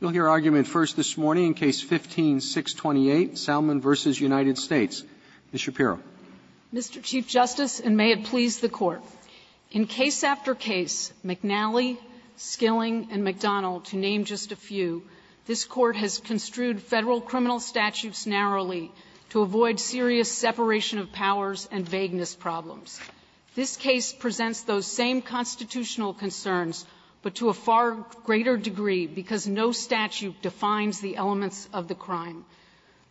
You'll hear argument first this morning in Case 15-628, Salman v. United States. Ms. Shapiro. Mr. Chief Justice, and may it please the Court, in case after case, McNally, Skilling, and McDonald, to name just a few, this Court has construed Federal criminal statutes narrowly to avoid serious separation of powers and vagueness problems. This case presents those same constitutional concerns, but to a far greater degree because no statute defines the elements of the crime.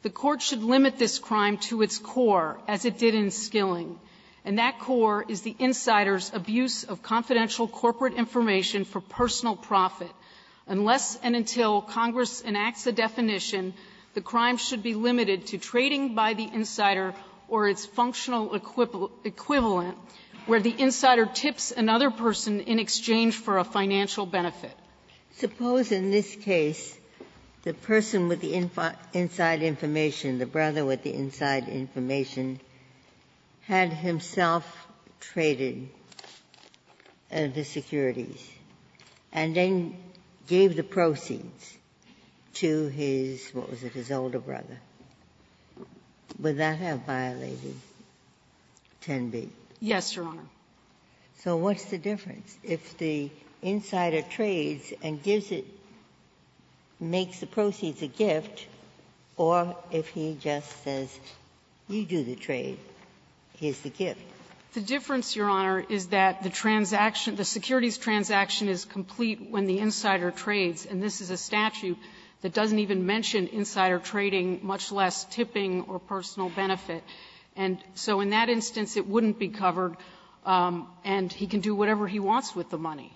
The Court should limit this crime to its core, as it did in Skilling. And that core is the insider's abuse of confidential corporate information for personal profit. Unless and until Congress enacts a definition, the crime should be limited to trading by the insider or its functional equivalent, where the insider tips another person in exchange for a financial benefit. Ginsburg. Suppose in this case the person with the inside information, the brother with the inside information, had himself traded the securities and then gave the proceeds to his, what was it, his older brother. Would that have violated 10b? Yes, Your Honor. So what's the difference? If the insider trades and gives it, makes the proceeds a gift, or if he just says, you do the trade, here's the gift? The difference, Your Honor, is that the transaction, the securities transaction is complete when the insider trades, and this is a statute that doesn't even mention insider trading, much less tipping or personal benefit. And so in that instance, it wouldn't be covered, and he can do whatever he wants with the money.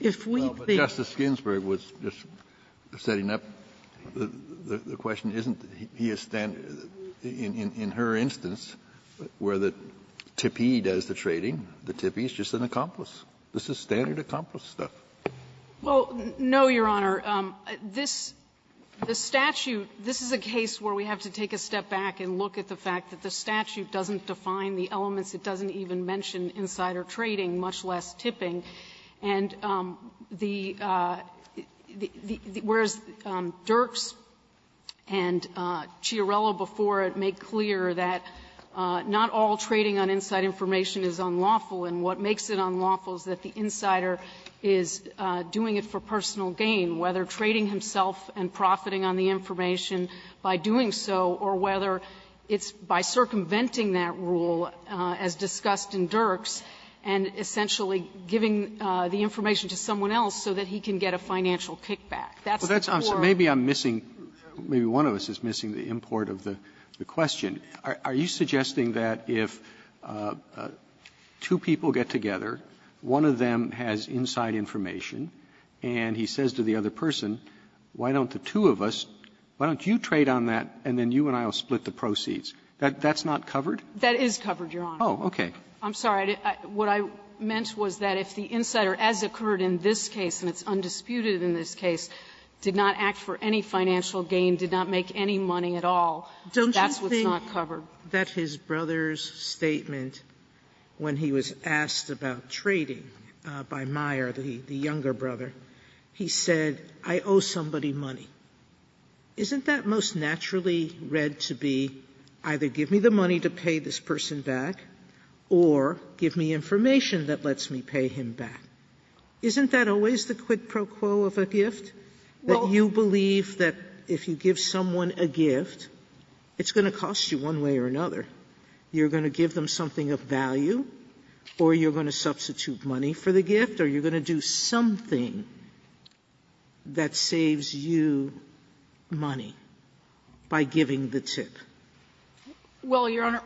If we think the question isn't, in her instance, where the tippee does the trading. The tippee is just an accomplice. This is standard accomplice stuff. Well, no, Your Honor. This statute, this is a case where we have to take a step back and look at the fact that the statute doesn't define the elements. It doesn't even mention insider trading, much less tipping. And the the the whereas Dirks and Chiarella before it make clear that not all trading on inside information is unlawful, and what makes it unlawful is that the insider is doing it for personal gain, whether trading himself and profiting on the information by doing so or whether it's by circumventing that rule as discussed in Dirks and essentially giving the information to someone else so that he can get a financial kickback. That's the core. Roberts. Maybe I'm missing, maybe one of us is missing the import of the question. Are you suggesting that if two people get together, one of them has inside information, and he says to the other person, why don't the two of us, why don't you trade on that, and then you and I will split the proceeds? That's not covered? That is covered, Your Honor. Oh, okay. I'm sorry. What I meant was that if the insider, as occurred in this case, and it's undisputed in this case, did not act for any financial gain, did not make any money at all, that's what's not covered. Don't you think that his brother's statement, when he was asked about trading by Meyer, the younger brother, he said, I owe somebody money? Isn't that most naturally read to be either give me the money to pay this person back or give me information that lets me pay him back? Isn't that always the quid pro quo of a gift, that you believe that if you give someone a gift, it's going to cost you one way or another. You're going to give them something of value, or you're going to substitute money for the gift, or you're going to do something that saves you money by giving the tip? Well, Your Honor,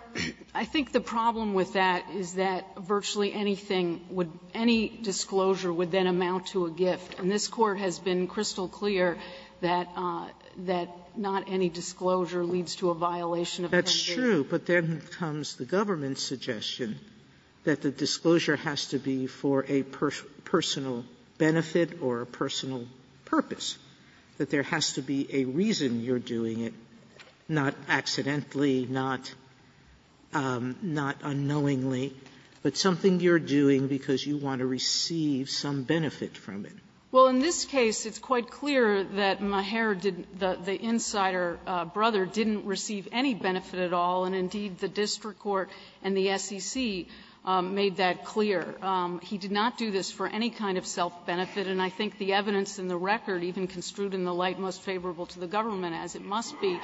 I think the problem with that is that virtually anything would any disclosure would then amount to a gift. And this Court has been crystal clear that not any disclosure leads to a violation of penalty. Sotomayor That's true, but then comes the government's suggestion that the disclosure has to be for a personal benefit or a personal purpose, that there has to be a reason you're doing it, not accidentally, not unknowingly, but something you're doing because you want to receive some benefit from it. Well, in this case, it's quite clear that Meagher did the insider brother didn't receive any benefit at all, and indeed, the district court and the SEC made that clear. He did not do this for any kind of self-benefit, and I think the evidence in the record, even construed in the light most favorable to the government as it must be,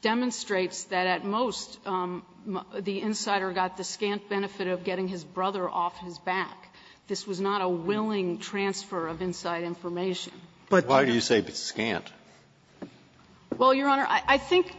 demonstrates that at most, the insider got the scant benefit of getting his brother off his back. This was not a willing transfer of inside information. Breyer But why do you say it's scant? Sotomayor Well, Your Honor, I think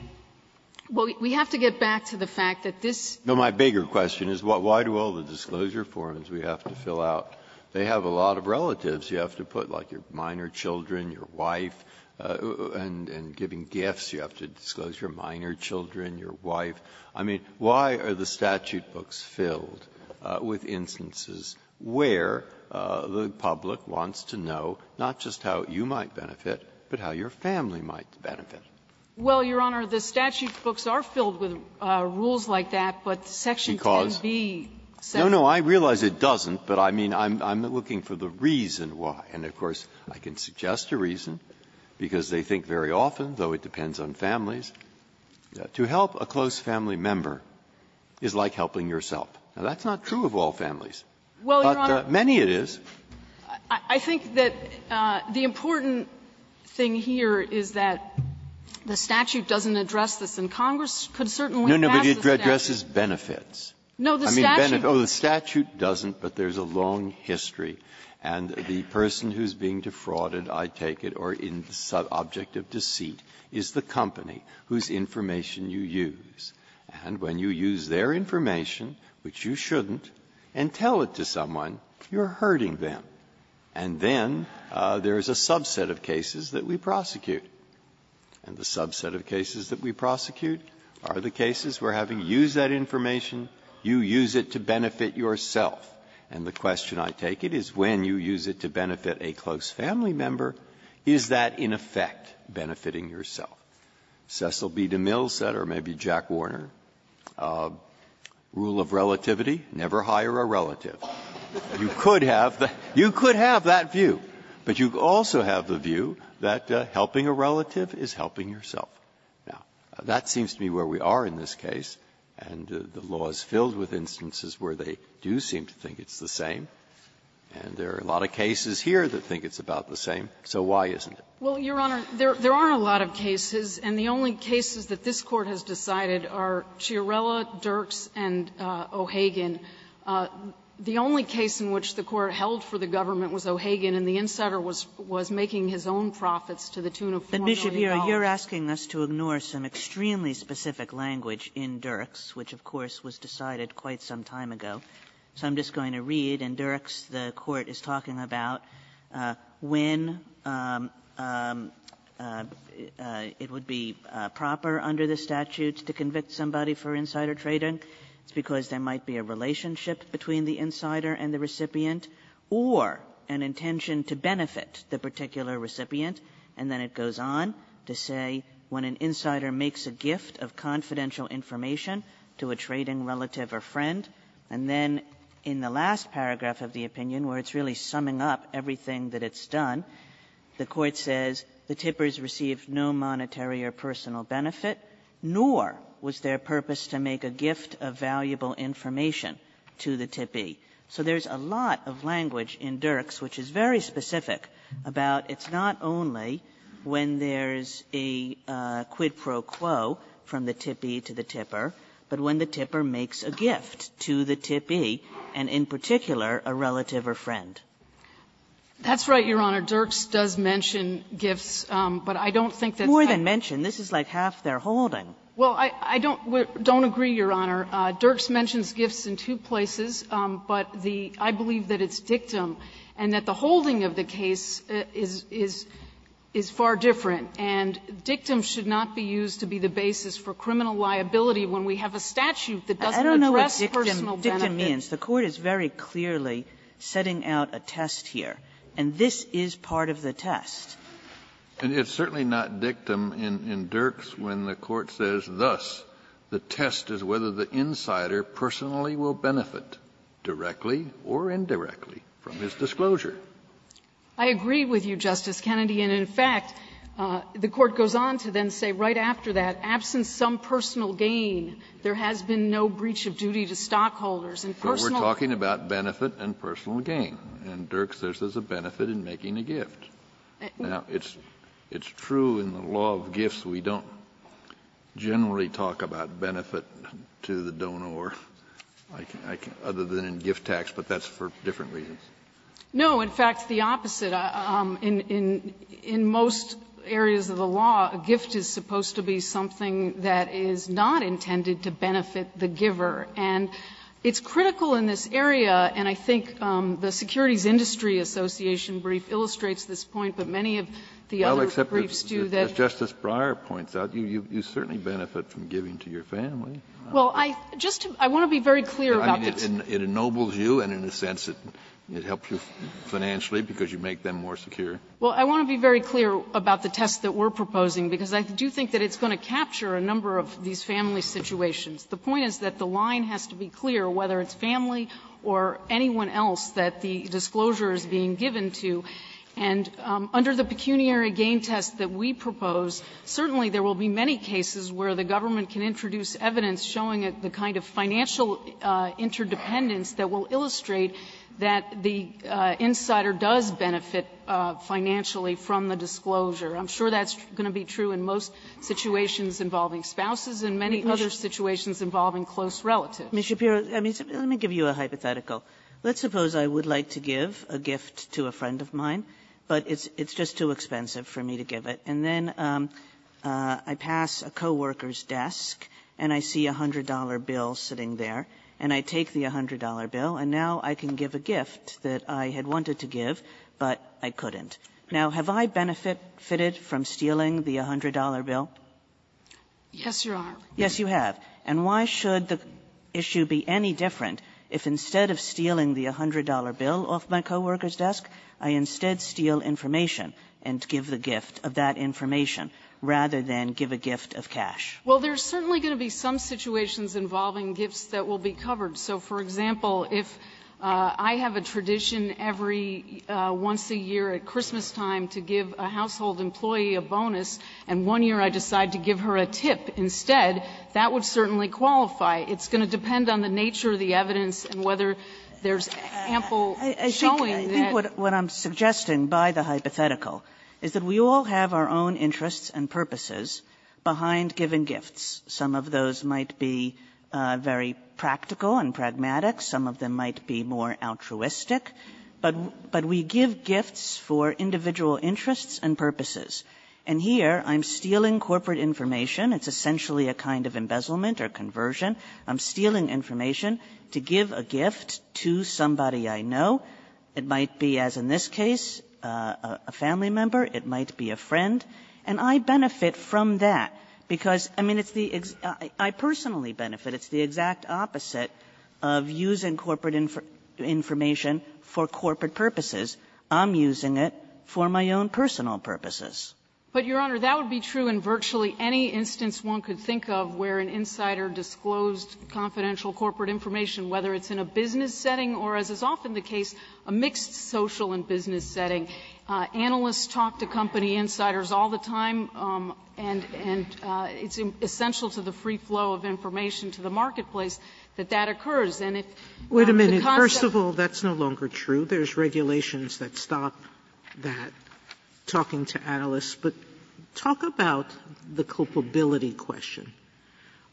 we have to get back to the fact that this ---- Breyer No, my bigger question is why do all the disclosure forms we have to fill out, they have a lot of relatives you have to put, like your minor children, your wife, and giving gifts, you have to disclose your minor children, your wife. I mean, why are the statute books filled with instances where the public wants to know not just how you might benefit, but how your family might benefit? Sotomayor Well, Your Honor, the statute books are filled with rules like that, but section 10b says ---- Breyer Because no, no, I realize it doesn't, but I mean, I'm looking for the reason why. And, of course, I can suggest a reason, because they think very often, though it depends on families, to help a close family member is like helping yourself. Now, that's not true of all families. Sotomayor Well, Your Honor ---- Breyer But many it is. Sotomayor I think that the important thing here is that the statute doesn't address this, and Congress could certainly pass the statute. Breyer No, no, but it addresses benefits. Sotomayor No, the statute ---- Breyer No, I think it addresses benefits. And the question I take it is when you use it to benefit a person who's being defrauded, I take it, or an object of deceit, is the company whose information you use. And when you use their information, which you shouldn't, and tell it to someone, you're hurting them. And then there is a subset of cases that we prosecute. And the subset of cases that we prosecute are the cases where, having used that information, you use it to benefit yourself. And the question I take it is when you use it to benefit a close family member, is that, in effect, benefiting yourself. Cecil B. DeMille said, or maybe Jack Warner, rule of relativity, never hire a relative. You could have that view, but you also have the view that helping a relative is helping yourself. Now, that seems to be where we are in this case, and the law is filled with instances where they do seem to think it's the same. And there are a lot of cases here that think it's about the same. So why isn't it? Sullivan. Well, Your Honor, there aren't a lot of cases, and the only cases that this Court has decided are Chiarella, Dirks, and O'Hagan. The only case in which the Court held for the government was O'Hagan and the insider was making his own profits to the tune of $4. Kagan. Kagan you're asking us to ignore some extremely specific language in Dirks, which, of course, was decided quite some time ago. So I'm just going to read. In Dirks the Court is talking about when it would be proper under the statute to convict somebody for insider trading. It's because there might be a relationship between the insider and the recipient or an intention to benefit the particular recipient. And then it goes on to say when an insider makes a gift of confidential information to a trading relative or friend. And then in the last paragraph of the opinion, where it's really summing up everything that it's done, the Court says the tippers received no monetary or personal benefit, nor was their purpose to make a gift of valuable information to the tippee. So there's a lot of language in Dirks which is very specific about it's not only when there's a quid pro quo from the tippee to the tipper, but when the tipper makes a gift to the tippee, and in particular a relative or friend. That's right, Your Honor. Dirks does mention gifts, but I don't think that's kind of the case. More than mention. This is like half their holding. Well, I don't agree, Your Honor. Dirks mentions gifts in two places, but the – I believe that it's dictum, and that the holding of the case is far different. And dictum should not be used to be the basis for criminal liability when we have a statute that doesn't address personal benefit. I don't know what dictum means. The Court is very clearly setting out a test here, and this is part of the test. And it's certainly not dictum in Dirks when the Court says, thus, the test is whether the insider personally will benefit, directly or indirectly, from his disclosure. I agree with you, Justice Kennedy, and, in fact, the Court goes on to then say right after that, absent some personal gain, there has been no breach of duty to stockholders. And personal – But we're talking about benefit and personal gain, and Dirks says there's a benefit in making a gift. Now, it's true in the law of gifts we don't generally talk about benefit to the donor or, like, other than in gift tax, but that's for different reasons. No. In fact, the opposite. In most areas of the law, a gift is supposed to be something that is not intended to benefit the giver. And it's critical in this area, and I think the Securities Industry Association brief illustrates this point, but many of the other briefs do that. Kennedy, as Justice Breyer points out, you certainly benefit from giving to your family. Well, I just want to be very clear about this. It ennobles you and, in a sense, it helps you financially because you make them more secure. Well, I want to be very clear about the test that we're proposing, because I do think that it's going to capture a number of these family situations. The point is that the line has to be clear, whether it's family or anyone else, that the disclosure is being given to. And under the pecuniary gain test that we propose, certainly there will be many cases where the government can introduce evidence showing the kind of financial interdependence that will illustrate that the insider does benefit financially from the disclosure. I'm sure that's going to be true in most situations involving spouses and many other situations involving close relatives. Kagan. Ms. Shapiro, I mean, let me give you a hypothetical. Let's suppose I would like to give a gift to a friend of mine, but it's just too expensive for me to give it. And then I pass a co-worker's desk and I see a $100 bill sitting there, and I take the $100 bill, and now I can give a gift that I had wanted to give, but I couldn't. Now, have I benefited from stealing the $100 bill? Yes, Your Honor. Yes, you have. And why should the issue be any different if instead of stealing the $100 bill off my co-worker's desk, I instead steal information and give the gift of that information rather than give a gift of cash? Well, there's certainly going to be some situations involving gifts that will be covered. So, for example, if I have a tradition every once a year at Christmastime to give a household employee a bonus, and one year I decide to give her a tip instead, that would certainly qualify. It's going to depend on the nature of the evidence and whether there's ample showing that ---- Kagan, I think what I'm suggesting by the hypothetical is that we all have our own interests and purposes behind giving gifts. Some of those might be very practical and pragmatic. Some of them might be more altruistic. But we give gifts for individual interests and purposes. And here, I'm stealing corporate information. It's essentially a kind of embezzlement or conversion. I'm stealing information to give a gift to somebody I know. It might be, as in this case, a family member. It might be a friend. And I benefit from that because, I mean, it's the exact ---- I personally benefit. It's the exact opposite of using corporate information for corporate purposes. I'm using it for my own personal purposes. But, Your Honor, that would be true in virtually any instance one could think of where an insider disclosed confidential corporate information, whether it's in a business setting or, as is often the case, a mixed social and business setting. Analysts talk to company insiders all the time, and it's essential to the free flow of information to the marketplace that that occurs. And if the concept ---- Sotomayor, first of all, that's no longer true. There's regulations that stop that, talking to analysts. But talk about the culpability question.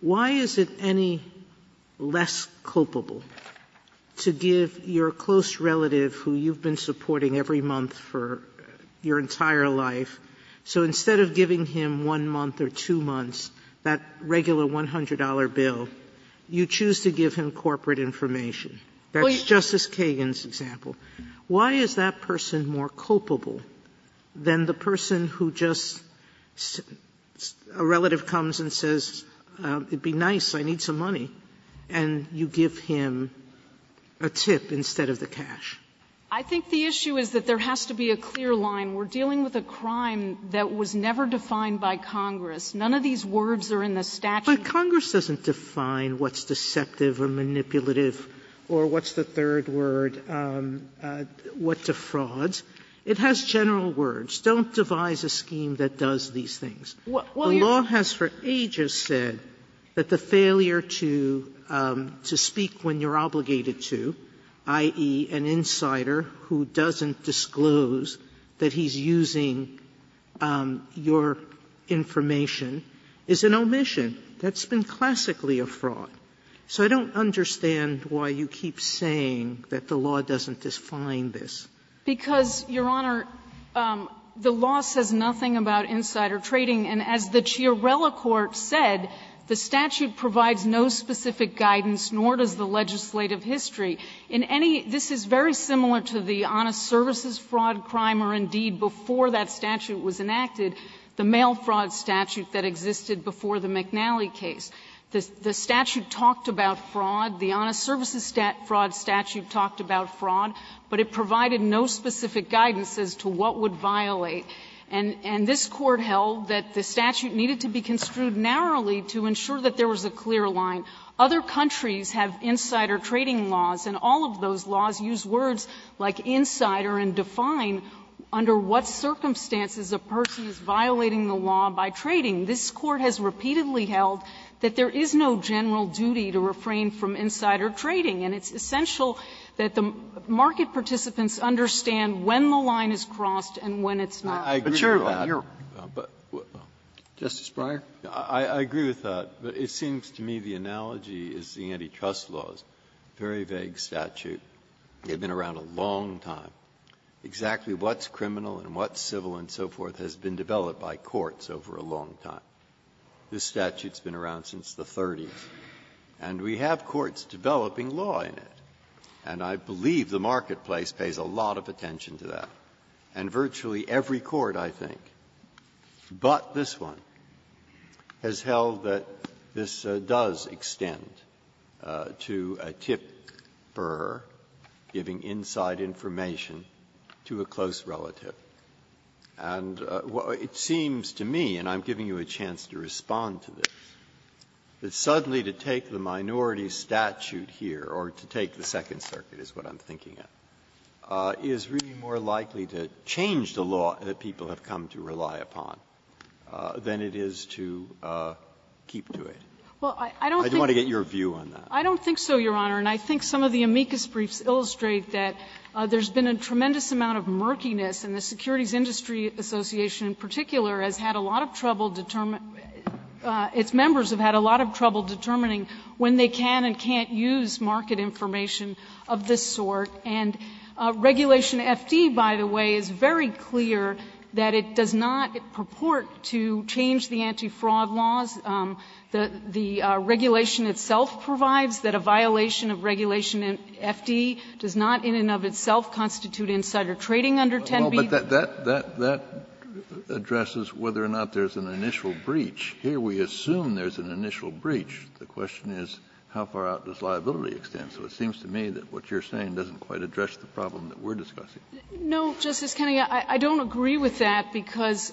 Why is it any less culpable to give your close relative, who you've been supporting every month for your entire life, so instead of giving him one month or two months, that regular $100 bill, you choose to give him corporate information? That's Justice Kagan's example. Why is that person more culpable than the person who just ---- a relative comes and says, it would be nice, I need some money, and you give him a tip instead of the cash? I think the issue is that there has to be a clear line. We're dealing with a crime that was never defined by Congress. None of these words are in the statute. But Congress doesn't define what's deceptive or manipulative or what's the third word. It doesn't define what defrauds. It has general words. Don't devise a scheme that does these things. The law has for ages said that the failure to speak when you're obligated to, i.e., an insider who doesn't disclose that he's using your information, is an omission. That's been classically a fraud. So I don't understand why you keep saying that the law doesn't define this. Because, Your Honor, the law says nothing about insider trading. And as the Chiarella court said, the statute provides no specific guidance, nor does the legislative history. In any ---- this is very similar to the honest services fraud crime or, indeed, before that statute was enacted, the mail fraud statute that existed before the McNally case. The statute talked about fraud. The honest services fraud statute talked about fraud. But it provided no specific guidance as to what would violate. And this Court held that the statute needed to be construed narrowly to ensure that there was a clear line. Other countries have insider trading laws, and all of those laws use words like insider and define under what circumstances a person is violating the law by trading. This Court has repeatedly held that there is no general duty to refrain from insider trading, and it's essential that the market participants understand when the line is crossed and when it's not. Breyer, I agree with that. But, Your Honor, but, Justice Breyer? I agree with that. But it seems to me the analogy is the antitrust laws, very vague statute. They've been around a long time. Exactly what's criminal and what's civil and so forth has been developed by courts over a long time. This statute's been around since the 30s, and we have courts developing law in it. And I believe the marketplace pays a lot of attention to that. And virtually every court, I think, but this one, has held that this does extend to a tipper giving inside information to a close relative. And it seems to me, and I'm giving you a chance to respond to this, that suddenly to take the minority statute here, or to take the Second Circuit is what I'm thinking of, is really more likely to change the law that people have come to rely upon than it is to keep to it. I want to get your view on that. I don't think so, Your Honor. And I think some of the amicus briefs illustrate that there's been a tremendous amount of murkiness, and the Securities Industry Association, in particular, has had a lot of trouble determining its members have had a lot of trouble determining when they can and can't use market information of this sort. And Regulation F.D., by the way, is very clear that it does not purport to change the antifraud laws. The regulation itself provides that a violation of Regulation F.D. does not in and of itself constitute insider trading under 10b. Kennedy, that addresses whether or not there's an initial breach. Here we assume there's an initial breach. The question is how far out does liability extend? So it seems to me that what you're saying doesn't quite address the problem that we're discussing. No, Justice Kennedy, I don't agree with that, because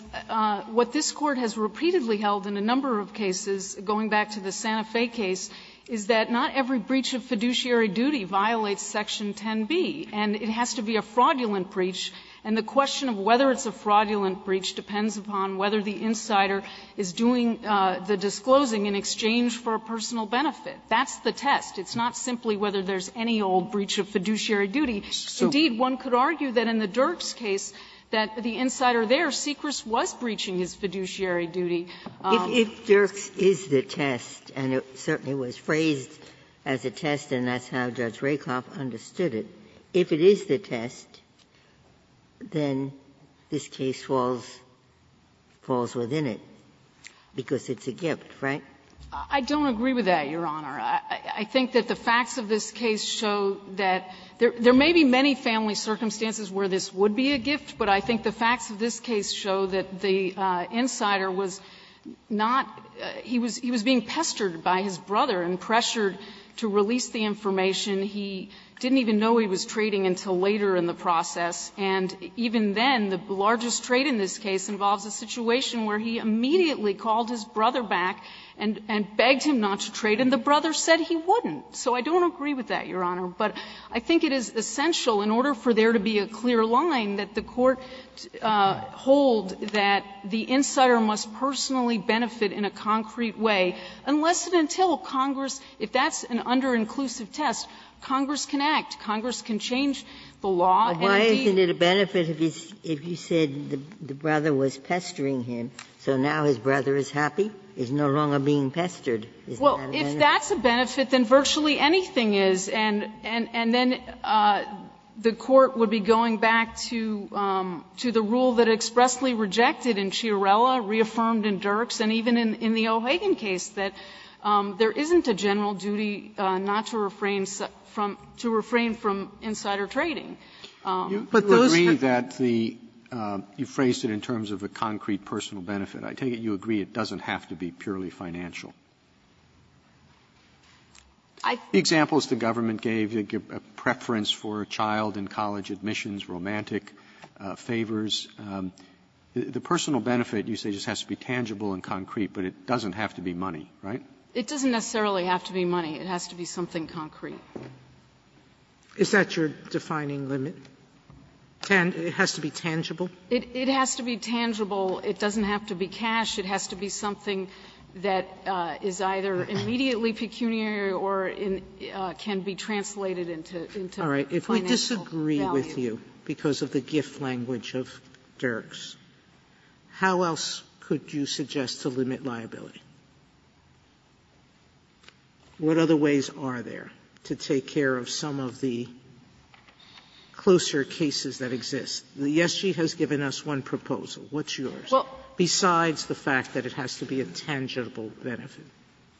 what this Court has repeatedly held in a number of cases, going back to the Santa Fe case, is that not every breach of fiduciary duty violates Section 10b. And it has to be a fraudulent breach, and the question of whether it's a fraudulent breach depends upon whether the insider is doing the disclosing in exchange for a personal benefit. That's the test. It's not simply whether there's any old breach of fiduciary duty. Indeed, one could argue that in the Dirks case, that the insider there, Sechris, was breaching his fiduciary duty. Ginsburg. If Dirks is the test, and it certainly was phrased as a test, and that's how Judge Rakoff understood it, if it is the test, then this case falls within it, because it's a gift, right? I don't agree with that, Your Honor. I think that the facts of this case show that there may be many family circumstances where this would be a gift, but I think the facts of this case show that the insider was not he was being pestered by his brother and pressured to release the information he didn't even know he was trading until later in the process, and even then, the largest trade in this case involves a situation where he immediately called his brother back and begged him not to trade, and the brother said he wouldn't. So I don't agree with that, Your Honor. But I think it is essential, in order for there to be a clear line, that the Court hold that the insider must personally benefit in a concrete way, unless and until Congress, if that's an under-inclusive test, Congress can act. Congress can change the law, and if he's been pestered, is no longer being pestered. Well, if that's a benefit, then virtually anything is, and then the Court would be going back to the rule that expressly rejected in Chiarella, reaffirmed in Dirks, and even in the O'Hagan case, that there isn't a general duty not to refrain from to refrain from insider trading. Those that the you phrased it in terms of a concrete personal benefit. I take it you agree it doesn't have to be purely financial. The examples the government gave, a preference for a child in college admissions, romantic favors, the personal benefit, you say, just has to be tangible and concrete, but it doesn't have to be money, right? It doesn't necessarily have to be money. It has to be something concrete. Is that your defining limit? It has to be tangible? It has to be tangible. It doesn't have to be cash. It has to be something that is either immediately pecuniary or can be translated into financial value. Sotomayor, if we disagree with you because of the gift language of Dirks, how else could you suggest to limit liability? What other ways are there to take care of some of the closer cases that exist? The ESG has given us one proposal. What's yours, besides the fact that it has to be a tangible benefit?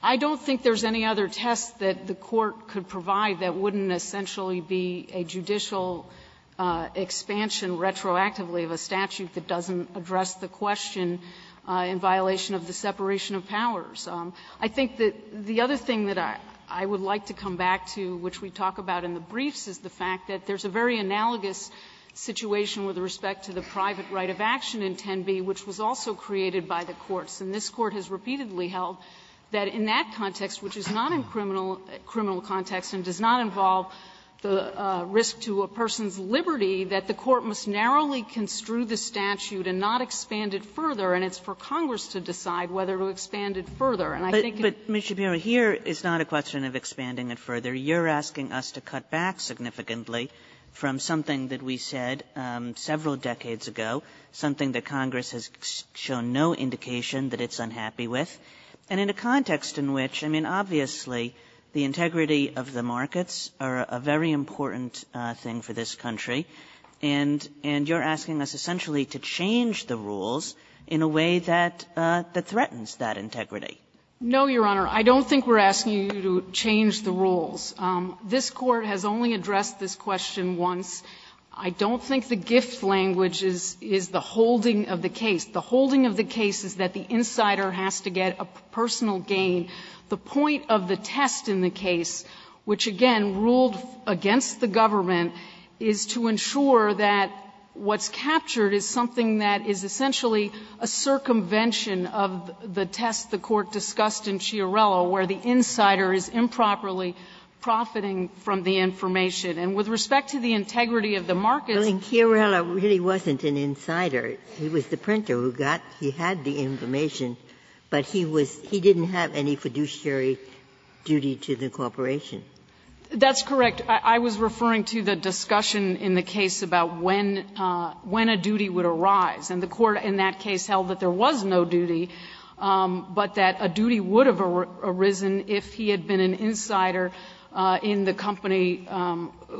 I don't think there's any other test that the Court could provide that wouldn't essentially be a judicial expansion retroactively of a statute that doesn't address the question in violation of the separation of powers. I think that the other thing that I would like to come back to, which we talk about in the briefs, is the fact that there's a very analogous situation with respect to the private right of action in 10b, which was also created by the courts. And this Court has repeatedly held that in that context, which is not in criminal context and does not involve the risk to a person's liberty, that the Court must narrowly construe the statute and not expand it further, and it's for Congress to decide whether to expand it further. And I think it's not a question of expanding it further. You're asking us to cut back significantly from something that we said several decades ago, something that Congress has shown no indication that it's unhappy with, and in a context in which, I mean, obviously, the integrity of the markets are a very important thing for this country, and you're asking us essentially to change the rules in a way that threatens that integrity. No, Your Honor. I don't think we're asking you to change the rules. This Court has only addressed this question once. I don't think the gift language is the holding of the case. The holding of the case is that the insider has to get a personal gain. The point of the test in the case, which, again, ruled against the government, is to ensure that what's captured is something that is essentially a circumvention of the test the Court discussed in Chiarello, where the insider is improperly profiting from the information. And with respect to the integrity of the markets ---- Ginsburg. And Chiarello really wasn't an insider. He was the printer who got the information, but he was he didn't have any fiduciary duty to the corporation. That's correct. I was referring to the discussion in the case about when a duty would arise. And the Court in that case held that there was no duty, but that a duty would have arisen if he had been an insider in the company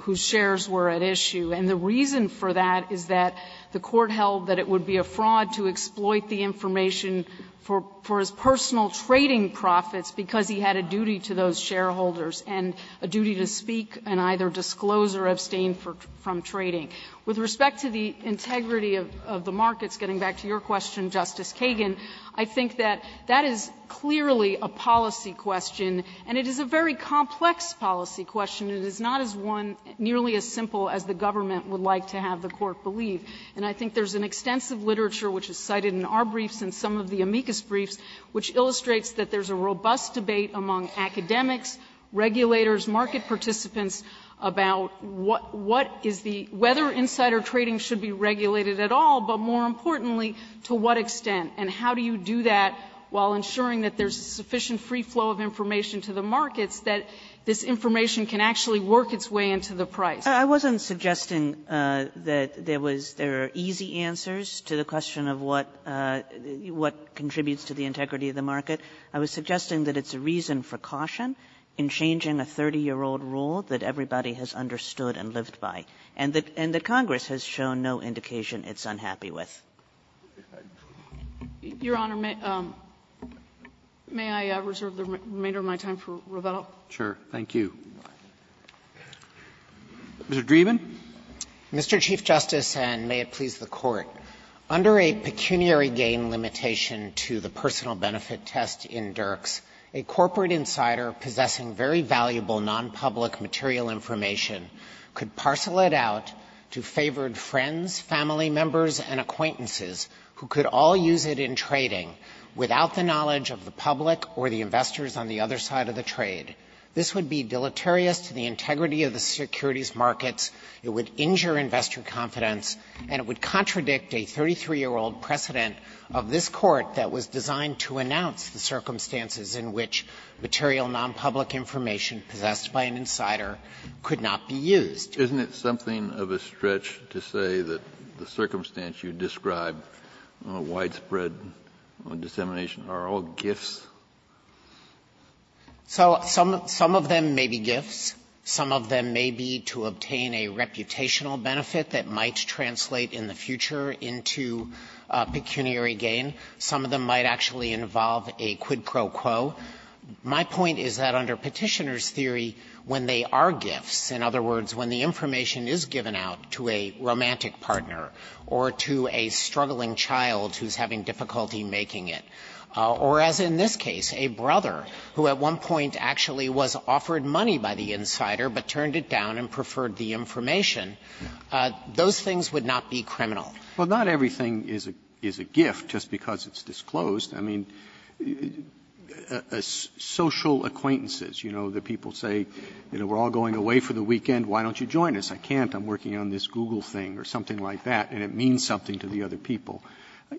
whose shares were at issue. And the reason for that is that the Court held that it would be a fraud to exploit the information for his personal trading profits because he had a duty to those shareholders and a duty to speak and either disclose or abstain from trading. With respect to the integrity of the markets, getting back to your question, Justice Kagan, I think that that is clearly a policy question, and it is a very complex policy question. It is not as one nearly as simple as the government would like to have the Court believe. And I think there's an extensive literature, which is cited in our briefs and some of the amicus briefs, which illustrates that there's a robust debate among academics, regulators, market participants about what is the ---- whether insider trading should be regulated at all, but more importantly, to what extent, and how do you do that while ensuring that there's sufficient free flow of information to the markets that this information can actually work its way into the price? Kagan. Kagan. Kagan. I was suggesting that it's a reason for caution in changing a 30-year-old rule that everybody has understood and lived by. And the Congress has shown no intent to do that. It's just a general indication it's unhappy with. Your Honor, may I reserve the remainder of my time for Revelle? Sure. Thank you. Mr. Dreeben. Mr. Chief Justice, and may it please the Court, under a pecuniary gain limitation to the personal benefit test in Dirks, a corporate insider possessing very valuable nonpublic material information could parcel it out to favored friends, family members, and acquaintances who could all use it in trading without the knowledge of the public or the investors on the other side of the trade. This would be deleterious to the integrity of the securities markets, it would injure investor confidence, and it would contradict a 33-year-old precedent of this Court that was designed to announce the circumstances in which material nonpublic information possessed by an insider could not be used. Isn't it something of a stretch to say that the circumstance you describe, widespread dissemination, are all gifts? So some of them may be gifts. Some of them may be to obtain a reputational benefit that might translate in the future into pecuniary gain. Some of them might actually involve a quid pro quo. My point is that under Petitioner's theory, when they are gifts, in other words, when the information is given out to a romantic partner or to a struggling child who's having difficulty making it, or as in this case, a brother who at one point actually was offered money by the insider but turned it down and preferred the information, those things would not be criminal. Roberts, Well, not everything is a gift just because it's disclosed. I mean, social acquaintances, you know, the people say, you know, we're all going away for the weekend, why don't you join us? I can't. I'm working on this Google thing or something like that, and it means something to the other people.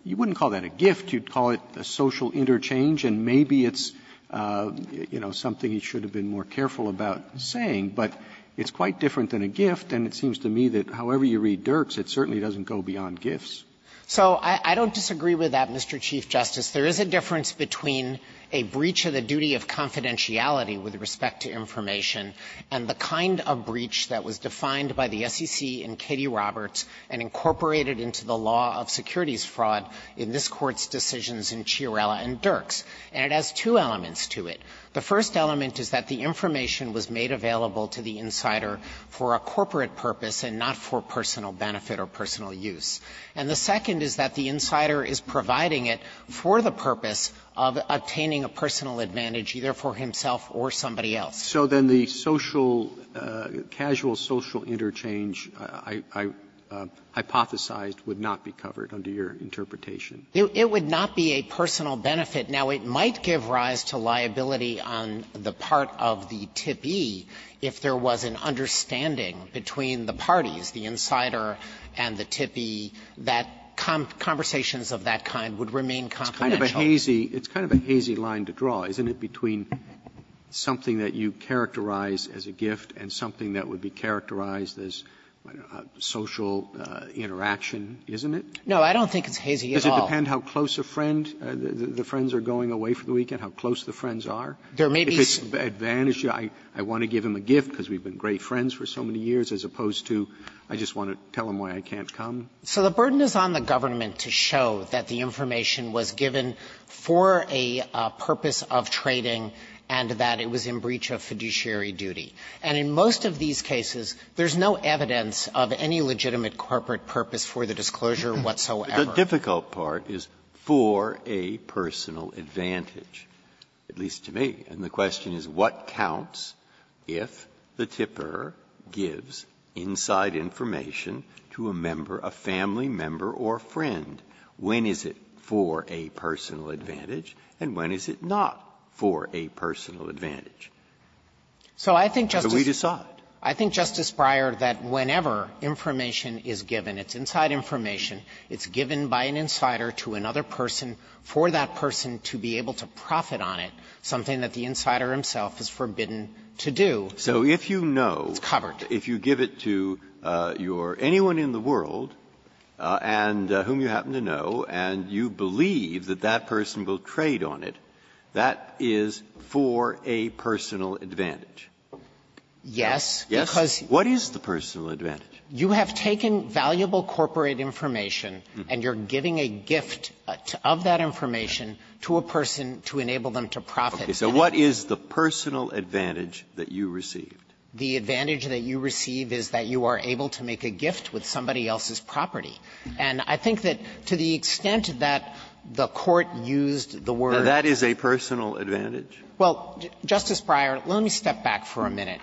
You wouldn't call that a gift. You'd call it a social interchange, and maybe it's, you know, something you should have been more careful about saying. But it's quite different than a gift, and it seems to me that however you read Dirks, it certainly doesn't go beyond gifts. Dreeben So I don't disagree with that, Mr. Chief Justice. There is a difference between a breach of the duty of confidentiality with respect to information and the kind of breach that was defined by the SEC in Cady Roberts and incorporated into the law of securities fraud in this Court's decisions in Chiarella and Dirks, and it has two elements to it. The first element is that the information was made available to the insider for a corporate purpose and not for personal benefit or personal use. And the second is that the insider is providing it for the purpose of obtaining a personal advantage, either for himself or somebody else. Roberts. So then the social, casual social interchange, I hypothesized, would not be covered under your interpretation? Dreeben It would not be a personal benefit. Now, it might give rise to liability on the part of the TIP-E if there was an understanding between the parties, the insider and the TIP-E, that conversations of that kind would remain confidential. Roberts. It's kind of a hazy line to draw, isn't it, between something that you characterize as a gift and something that would be characterized as social interaction, isn't it? Dreeben No, I don't think it's hazy at all. Roberts. Does it depend how close a friend the friends are going away for the weekend, how close the friends are? Dreeben There may be some advantages. I want to give him a gift because we've been great friends for so many years, as opposed to I just want to tell him why I can't come. Dreeben So the burden is on the government to show that the information was given for a purpose of trading and that it was in breach of fiduciary duty. And in most of these cases, there's no evidence of any legitimate corporate purpose for the disclosure whatsoever. Breyer The difficult part is for a personal advantage, at least to me. And the question is, what counts if the tipper gives inside information to a member, a family member or friend? When is it for a personal advantage and when is it not for a personal advantage? Dreeben So I think, Justice Breyer, that whenever information is given, it's inside information, it's given by an insider to another person for that person to be able to profit on it, something that the insider himself is forbidden to do. Breyer So if you know that if you give it to your anyone in the world and whom you happen to know and you believe that that person will trade on it, that is for a personal advantage? Dreeben Yes. Breyer Yes? What is the personal advantage? Dreeben You have taken valuable corporate information and you're giving a gift of that information to a person to enable them to profit. Breyer Okay. So what is the personal advantage that you received? Dreeben The advantage that you receive is that you are able to make a gift with somebody else's property. And I think that to the extent that the Court used the word that is a personal advantage. Well, Justice Breyer, let me step back for a minute.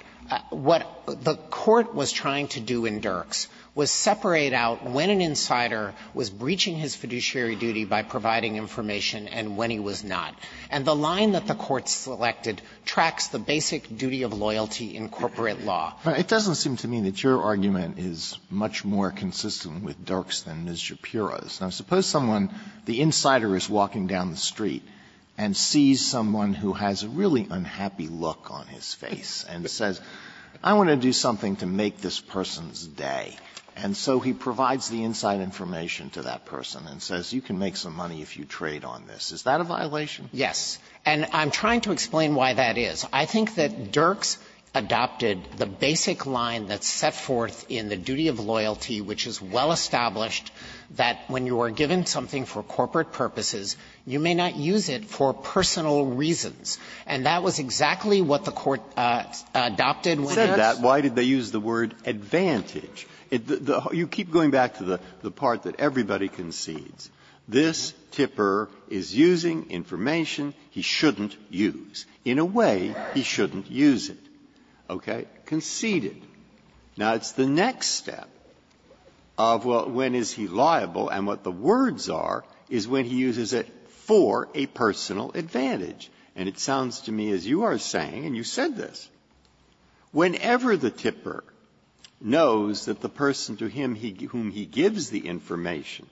What the Court was trying to do in Dirks was separate out when an insider was breaching his fiduciary duty by providing information and when he was not. And the line that the Court selected tracks the basic duty of loyalty in corporate law. Alito It doesn't seem to me that your argument is much more consistent with Dirks than Ms. Shapiro's. Now, suppose someone, the insider is walking down the street and sees someone who has a really unhappy look on his face and says, I want to do something to make this person's day. And so he provides the inside information to that person and says, you can make some money if you trade on this. Is that a violation? Dreeben Yes. And I'm trying to explain why that is. I think that Dirks adopted the basic line that's set forth in the duty of loyalty, which is well established that when you are given something for corporate purposes, you may not use it for personal reasons. And that was exactly what the Court adopted when it was used. Breyer Why did they use the word advantage? You keep going back to the part that everybody concedes. This tipper is using information he shouldn't use. In a way, he shouldn't use it. Okay? Conceded. Now, it's the next step of when is he liable and what the words are is when he uses it for a personal advantage. And it sounds to me as you are saying, and you said this. Whenever the tipper knows that the person to whom he gives the information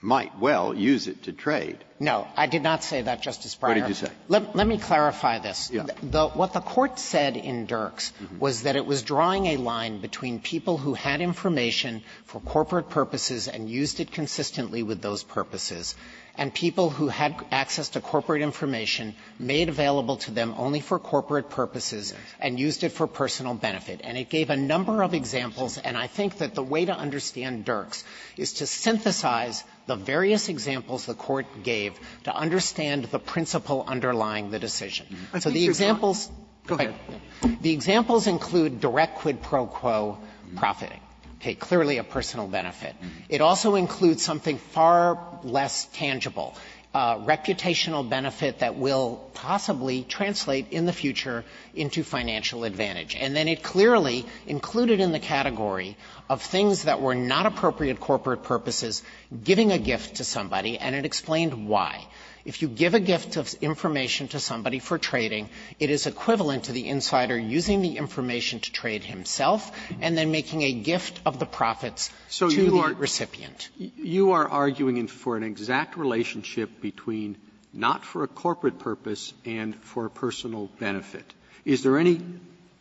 might well use it to trade — Dreeben No. I did not say that, Justice Breyer. Breyer What did you say? Dreeben Let me clarify this. Breyer Yes. Dreeben What the Court said in Dirks was that it was drawing a line between people who had information for corporate purposes and used it consistently with those purposes, and people who had access to corporate information made available to them only for corporate purposes and used it for personal benefit. And it gave a number of examples, and I think that the way to understand Dirks is to synthesize the various examples the Court gave to understand the principle underlying the decision. So the examples go ahead. The examples include direct quid pro quo profiting, clearly a personal benefit. It also includes something far less tangible, a reputational benefit that will possibly translate in the future into financial advantage. And then it clearly included in the category of things that were not appropriate corporate purposes giving a gift to somebody, and it explained why. If you give a gift of information to somebody for trading, it is equivalent to the insider using the information to trade himself and then making a gift of the profits to the recipient. Roberts, So you are arguing for an exact relationship between not for a corporate purpose and for a personal benefit. Is there any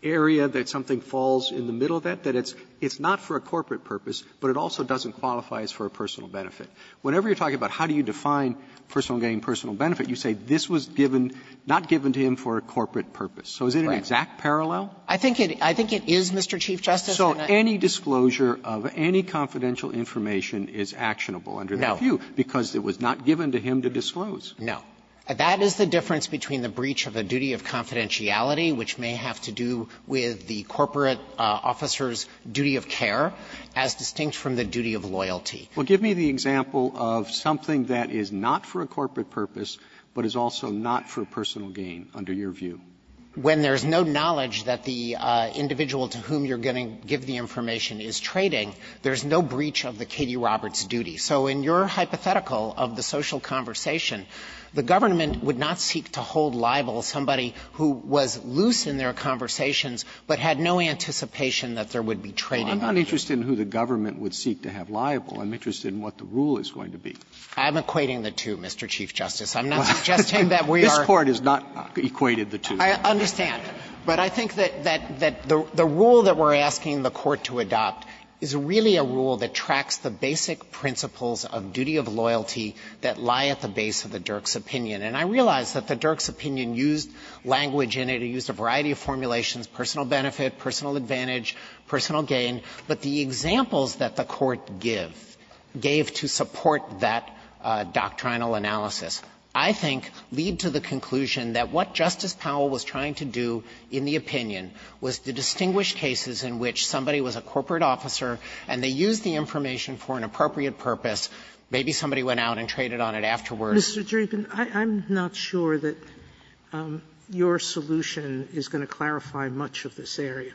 area that something falls in the middle of that, that it's not for a corporate purpose, but it also doesn't qualify as for a personal benefit? Whenever you're talking about how do you define personal gain, personal benefit, you say this was given, not given to him for a corporate purpose. So is it an exact parallel? I think it is, Mr. Chief Justice. So any disclosure of any confidential information is actionable under the view because it was not given to him to disclose. No. That is the difference between the breach of a duty of confidentiality, which may have to do with the corporate officer's duty of care, as distinct from the duty of loyalty. Well, give me the example of something that is not for a corporate purpose, but is also not for personal gain under your view. When there's no knowledge that the individual to whom you're going to give the information is trading, there's no breach of the Katie Roberts duty. So in your hypothetical of the social conversation, the government would not seek to hold liable somebody who was loose in their conversations, but had no anticipation that there would be trading. Well, I'm not interested in who the government would seek to have liable. I'm interested in what the rule is going to be. I'm equating the two, Mr. Chief Justice. I'm not suggesting that we are. This Court has not equated the two. I understand. But I think that the rule that we're asking the Court to adopt is really a rule that detracts the basic principles of duty of loyalty that lie at the base of the Dirk's opinion. And I realize that the Dirk's opinion used language in it. It used a variety of formulations, personal benefit, personal advantage, personal gain, but the examples that the Court give, gave to support that doctrinal analysis, I think, lead to the conclusion that what Justice Powell was trying to do in the opinion was to distinguish cases in which somebody was a corporate officer and they used the information for an appropriate purpose, maybe somebody went out and traded on it afterwards. Sotomayor, I'm not sure that your solution is going to clarify much of this area,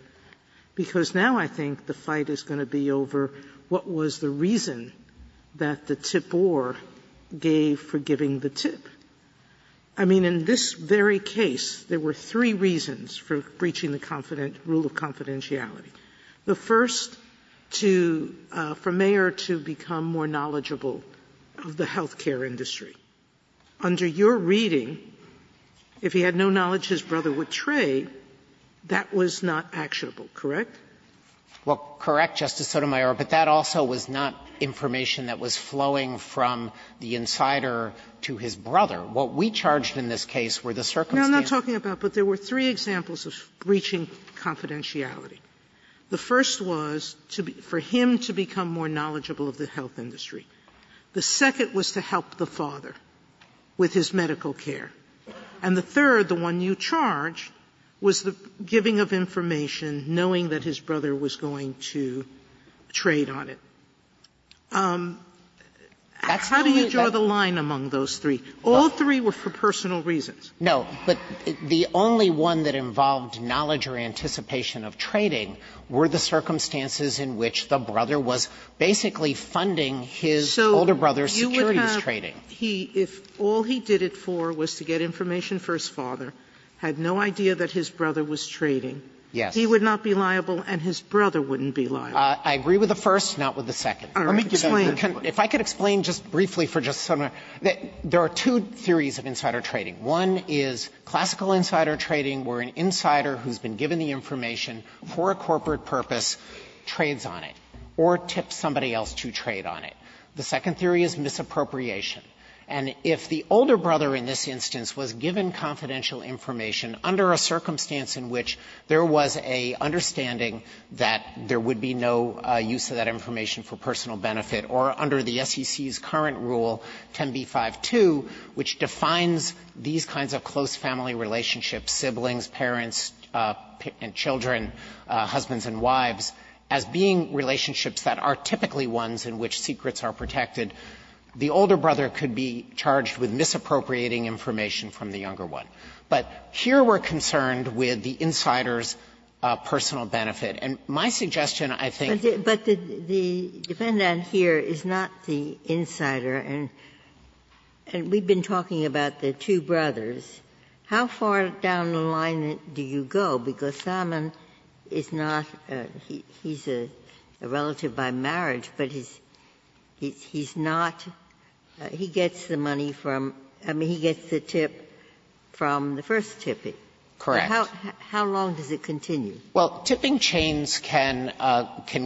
because now I think the fight is going to be over what was the reason that the tip or gave for giving the tip. I mean, in this very case, there were three reasons for breaching the rule of confidentiality. The first, to for Mayer to become more knowledgeable of the health care industry. Under your reading, if he had no knowledge his brother would trade, that was not actionable, correct? Well, correct, Justice Sotomayor, but that also was not information that was flowing from the insider to his brother. What we charged in this case were the circumstances. No, I'm not talking about that. But there were three examples of breaching confidentiality. The first was for him to become more knowledgeable of the health industry. The second was to help the father with his medical care. And the third, the one you charged, was the giving of information, knowing that his brother was going to trade on it. How do you draw the line among those three? All three were for personal reasons. No, but the only one that involved knowledge or anticipation of trading were the circumstances in which the brother was basically funding his older brother's securities trading. So you would have, he, if all he did it for was to get information for his father, had no idea that his brother was trading, he would not be liable and his brother wouldn't be liable. I agree with the first, not with the second. All right, explain. If I could explain just briefly for Justice Sotomayor, there are two theories of insider trading. One is classical insider trading, where an insider who's been given the information for a corporate purpose trades on it, or tips somebody else to trade on it. The second theory is misappropriation. And if the older brother in this instance was given confidential information under a circumstance in which there was an understanding that there would be no use of that information for personal benefit, or under the SEC's current rule, 10b-5-2, which defines these kinds of close family relationships, siblings, parents, and children, husbands and wives, as being relationships that are typically ones in which secrets are protected, the older brother could be charged with misappropriating information from the younger one. But here we're concerned with the insider's personal benefit. And my suggestion, I think, is that the insider is not the insider. And we've been talking about the two brothers. How far down the line do you go? Because Salmon is not he's a relative by marriage, but he's not, he gets the money from, I mean, he gets the tip from the first tipping. Correct. How long does it continue? Well, tipping chains can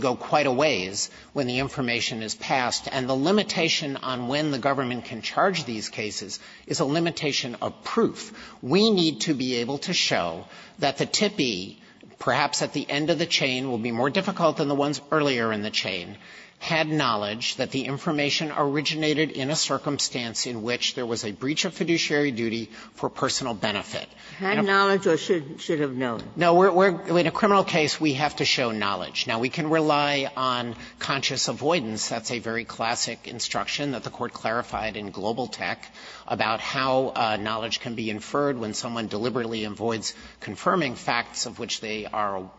go quite a ways when the information is passed. And the limitation on when the government can charge these cases is a limitation of proof. We need to be able to show that the tippee, perhaps at the end of the chain, will be more difficult than the ones earlier in the chain, had knowledge that the information originated in a circumstance in which there was a breach of fiduciary duty for personal benefit. Had knowledge or should have known? No, in a criminal case, we have to show knowledge. Now, we can rely on conscious avoidance. That's a very classic instruction that the Court clarified in Global Tech about how knowledge can be inferred when someone deliberately avoids confirming facts of which they are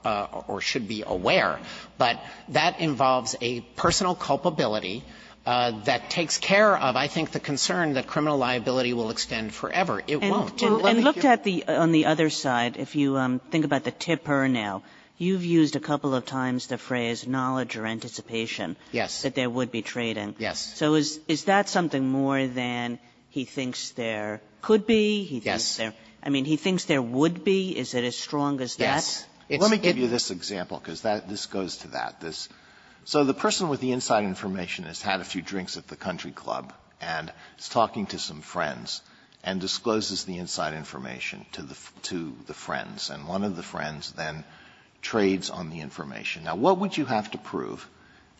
or should be aware. But that involves a personal culpability that takes care of, I think, the concern that criminal liability will extend forever. It won't. And let me hear you. And looked at the other side, if you think about the tipper now, you've used a couple of times the phrase knowledge or anticipation. Yes. That there would be trading. Yes. So is that something more than he thinks there could be? Yes. I mean, he thinks there would be? Is it as strong as that? Yes. Let me give you this example, because this goes to that. So the person with the inside information has had a few drinks at the country club and is talking to some friends and discloses the inside information to the friends, and one of the friends then trades on the information. Now, what would you have to prove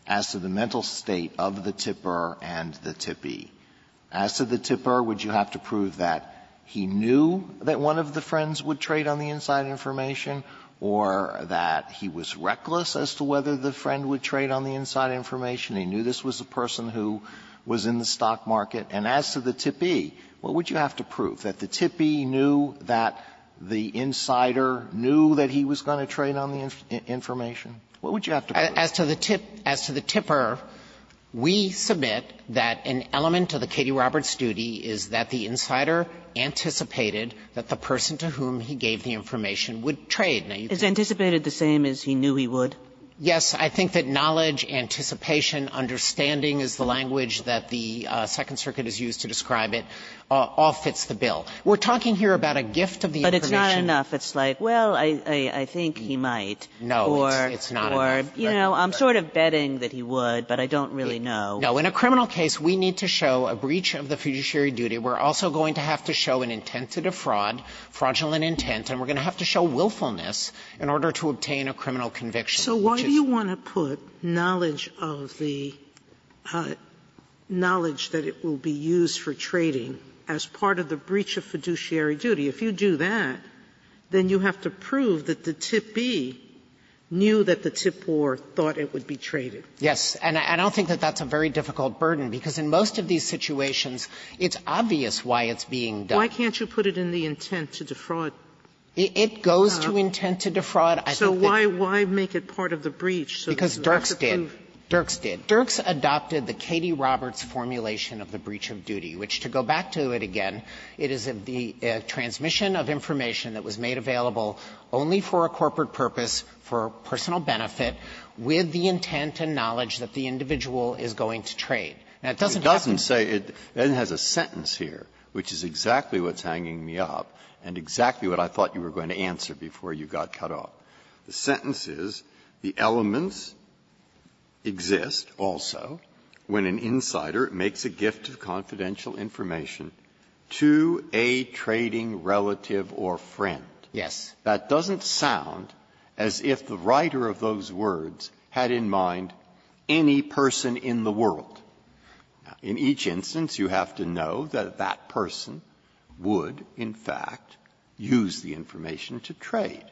as to the mental state of the tipper and the tippee? As to the tipper, would you have to prove that he knew that one of the friends would trade on the inside information or that he was reckless as to whether the friend would trade on the inside information? He knew this was a person who was in the stock market. And as to the tippee, what would you have to prove? That the tippee knew that the insider knew that he was going to trade on the information? What would you have to prove? As to the tipper, we submit that an element of the Katie Roberts duty is that the insider anticipated that the person to whom he gave the information would trade. Now, you can't. Is anticipated the same as he knew he would? Yes. I think that knowledge, anticipation, understanding is the language that the Second Circuit has used to describe it, all fits the bill. We're talking here about a gift of the information. But it's not enough. It's like, well, I think he might. No. It's not enough. Or, you know, I'm sort of betting that he would, but I don't really know. No. In a criminal case, we need to show a breach of the fiduciary duty. We're also going to have to show an intent to defraud, fraudulent intent, and we're going to have to show willfulness in order to obtain a criminal conviction. So why do you want to put knowledge of the knowledge that it will be used for trading as part of the breach of fiduciary duty? If you do that, then you have to prove that the tip B knew that the tip or thought it would be traded. Yes. And I don't think that that's a very difficult burden, because in most of these situations, it's obvious why it's being done. Why can't you put it in the intent to defraud? It goes to intent to defraud. So why make it part of the breach? Because Dirks did. Dirks did. Dirks adopted the Katie Roberts formulation of the breach of duty, which, to go back to it again, it is the transmission of information that was made available only for a corporate purpose, for personal benefit, with the intent and knowledge that the individual is going to trade. Now, it doesn't have to say it has a sentence here, which is exactly what's hanging me up, and exactly what I thought you were going to answer before you got cut off. The sentence is, the elements exist also when an insider makes a gift of confidential information to a trading relative or friend. Yes. That doesn't sound as if the writer of those words had in mind any person in the world. In each instance, you have to know that that person would, in fact, use the information to trade.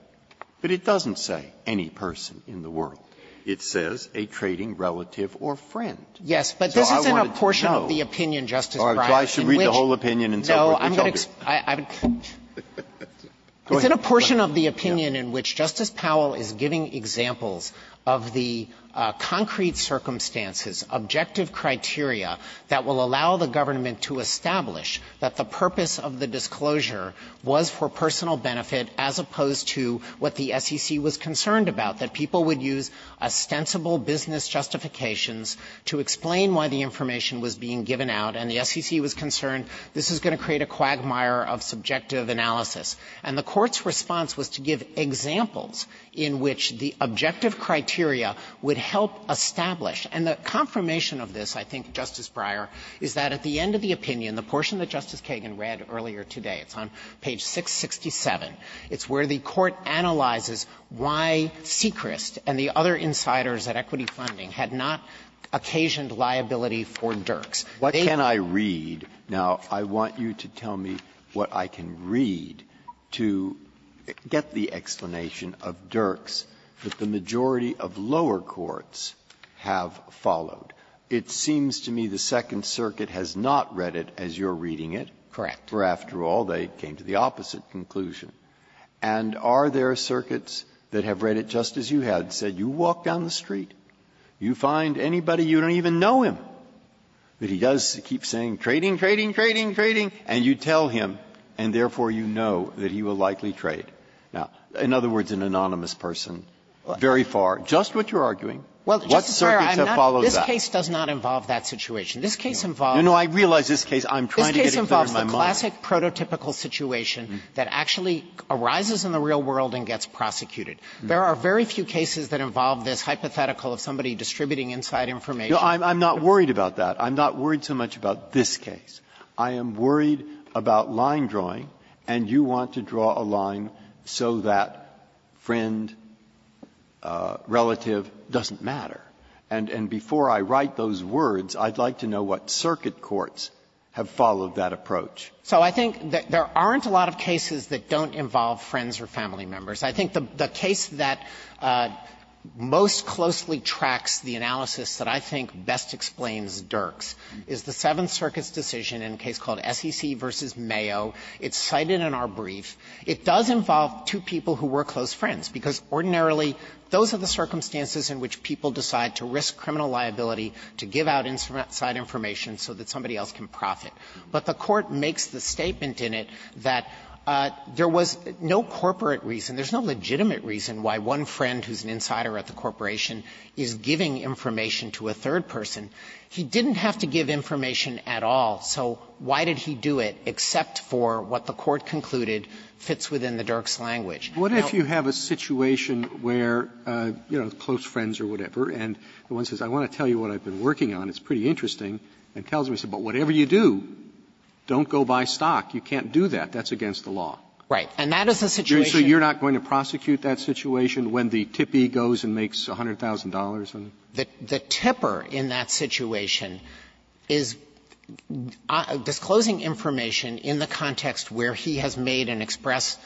But it doesn't say any person in the world. It says a trading relative or friend. Yes. But this is in a portion of the opinion, Justice Breyer. Breyer, so I should read the whole opinion and so forth? No, I'm going to explain. It's in a portion of the opinion in which Justice Powell is giving examples of the concrete circumstances, objective criteria that will allow the government to establish that the purpose of the disclosure was for personal benefit as opposed to what the SEC was concerned about, that people would use ostensible business justifications to explain why the information was being given out, and the SEC was concerned this was going to create a quagmire of subjective analysis. And the Court's response was to give examples in which the objective criteria would help establish. And the confirmation of this, I think, Justice Breyer, is that at the end of the opinion, the portion that Justice Kagan read earlier today, it's on page 667, it's where the Court analyzes why Sechrist and the other insiders at Equity Funding had not occasioned liability for Dirks. Breyer, what can I read? Now, I want you to tell me what I can read to get the explanation of Dirks that the majority of lower courts have followed. It seems to me the Second Circuit has not read it as you're reading it. Correct. For after all, they came to the opposite conclusion. And are there circuits that have read it just as you have, said you walk down the street and you see somebody, you don't even know him, that he does keep saying, trading, trading, trading, trading, and you tell him, and therefore you know that he will likely trade? Now, in other words, an anonymous person, very far, just what you're arguing, what circuits have followed that? This case does not involve that situation. This case involves the classic prototypical situation that actually arises in the real world and gets prosecuted. There are very few cases that involve this hypothetical of somebody distributing inside information. Breyer, I'm not worried about that. I'm not worried so much about this case. I am worried about line drawing, and you want to draw a line so that friend, relative doesn't matter. And before I write those words, I'd like to know what circuit courts have followed that approach. So I think there aren't a lot of cases that don't involve friends or family members. I think the case that most closely tracks the analysis that I think best explains Dirks is the Seventh Circuit's decision in a case called SEC v. Mayo. It's cited in our brief. It does involve two people who were close friends, because ordinarily those are the circumstances in which people decide to risk criminal liability to give out inside information so that somebody else can profit. But the Court makes the statement in it that there was no corporate reason, there is no legitimate reason why one friend who is an insider at the corporation is giving information to a third person. He didn't have to give information at all, so why did he do it except for what the Court concluded fits within the Dirks language? Roberts, what if you have a situation where, you know, close friends or whatever and the one says, I want to tell you what I've been working on, it's pretty interesting, and tells me, but whatever you do, don't go buy stock. You can't do that. That's against the law. Right. And that is a situation where you're not going to profit. So you can't prosecute that situation when the tippee goes and makes $100,000 on it? The tipper in that situation is disclosing information in the context where he has made an express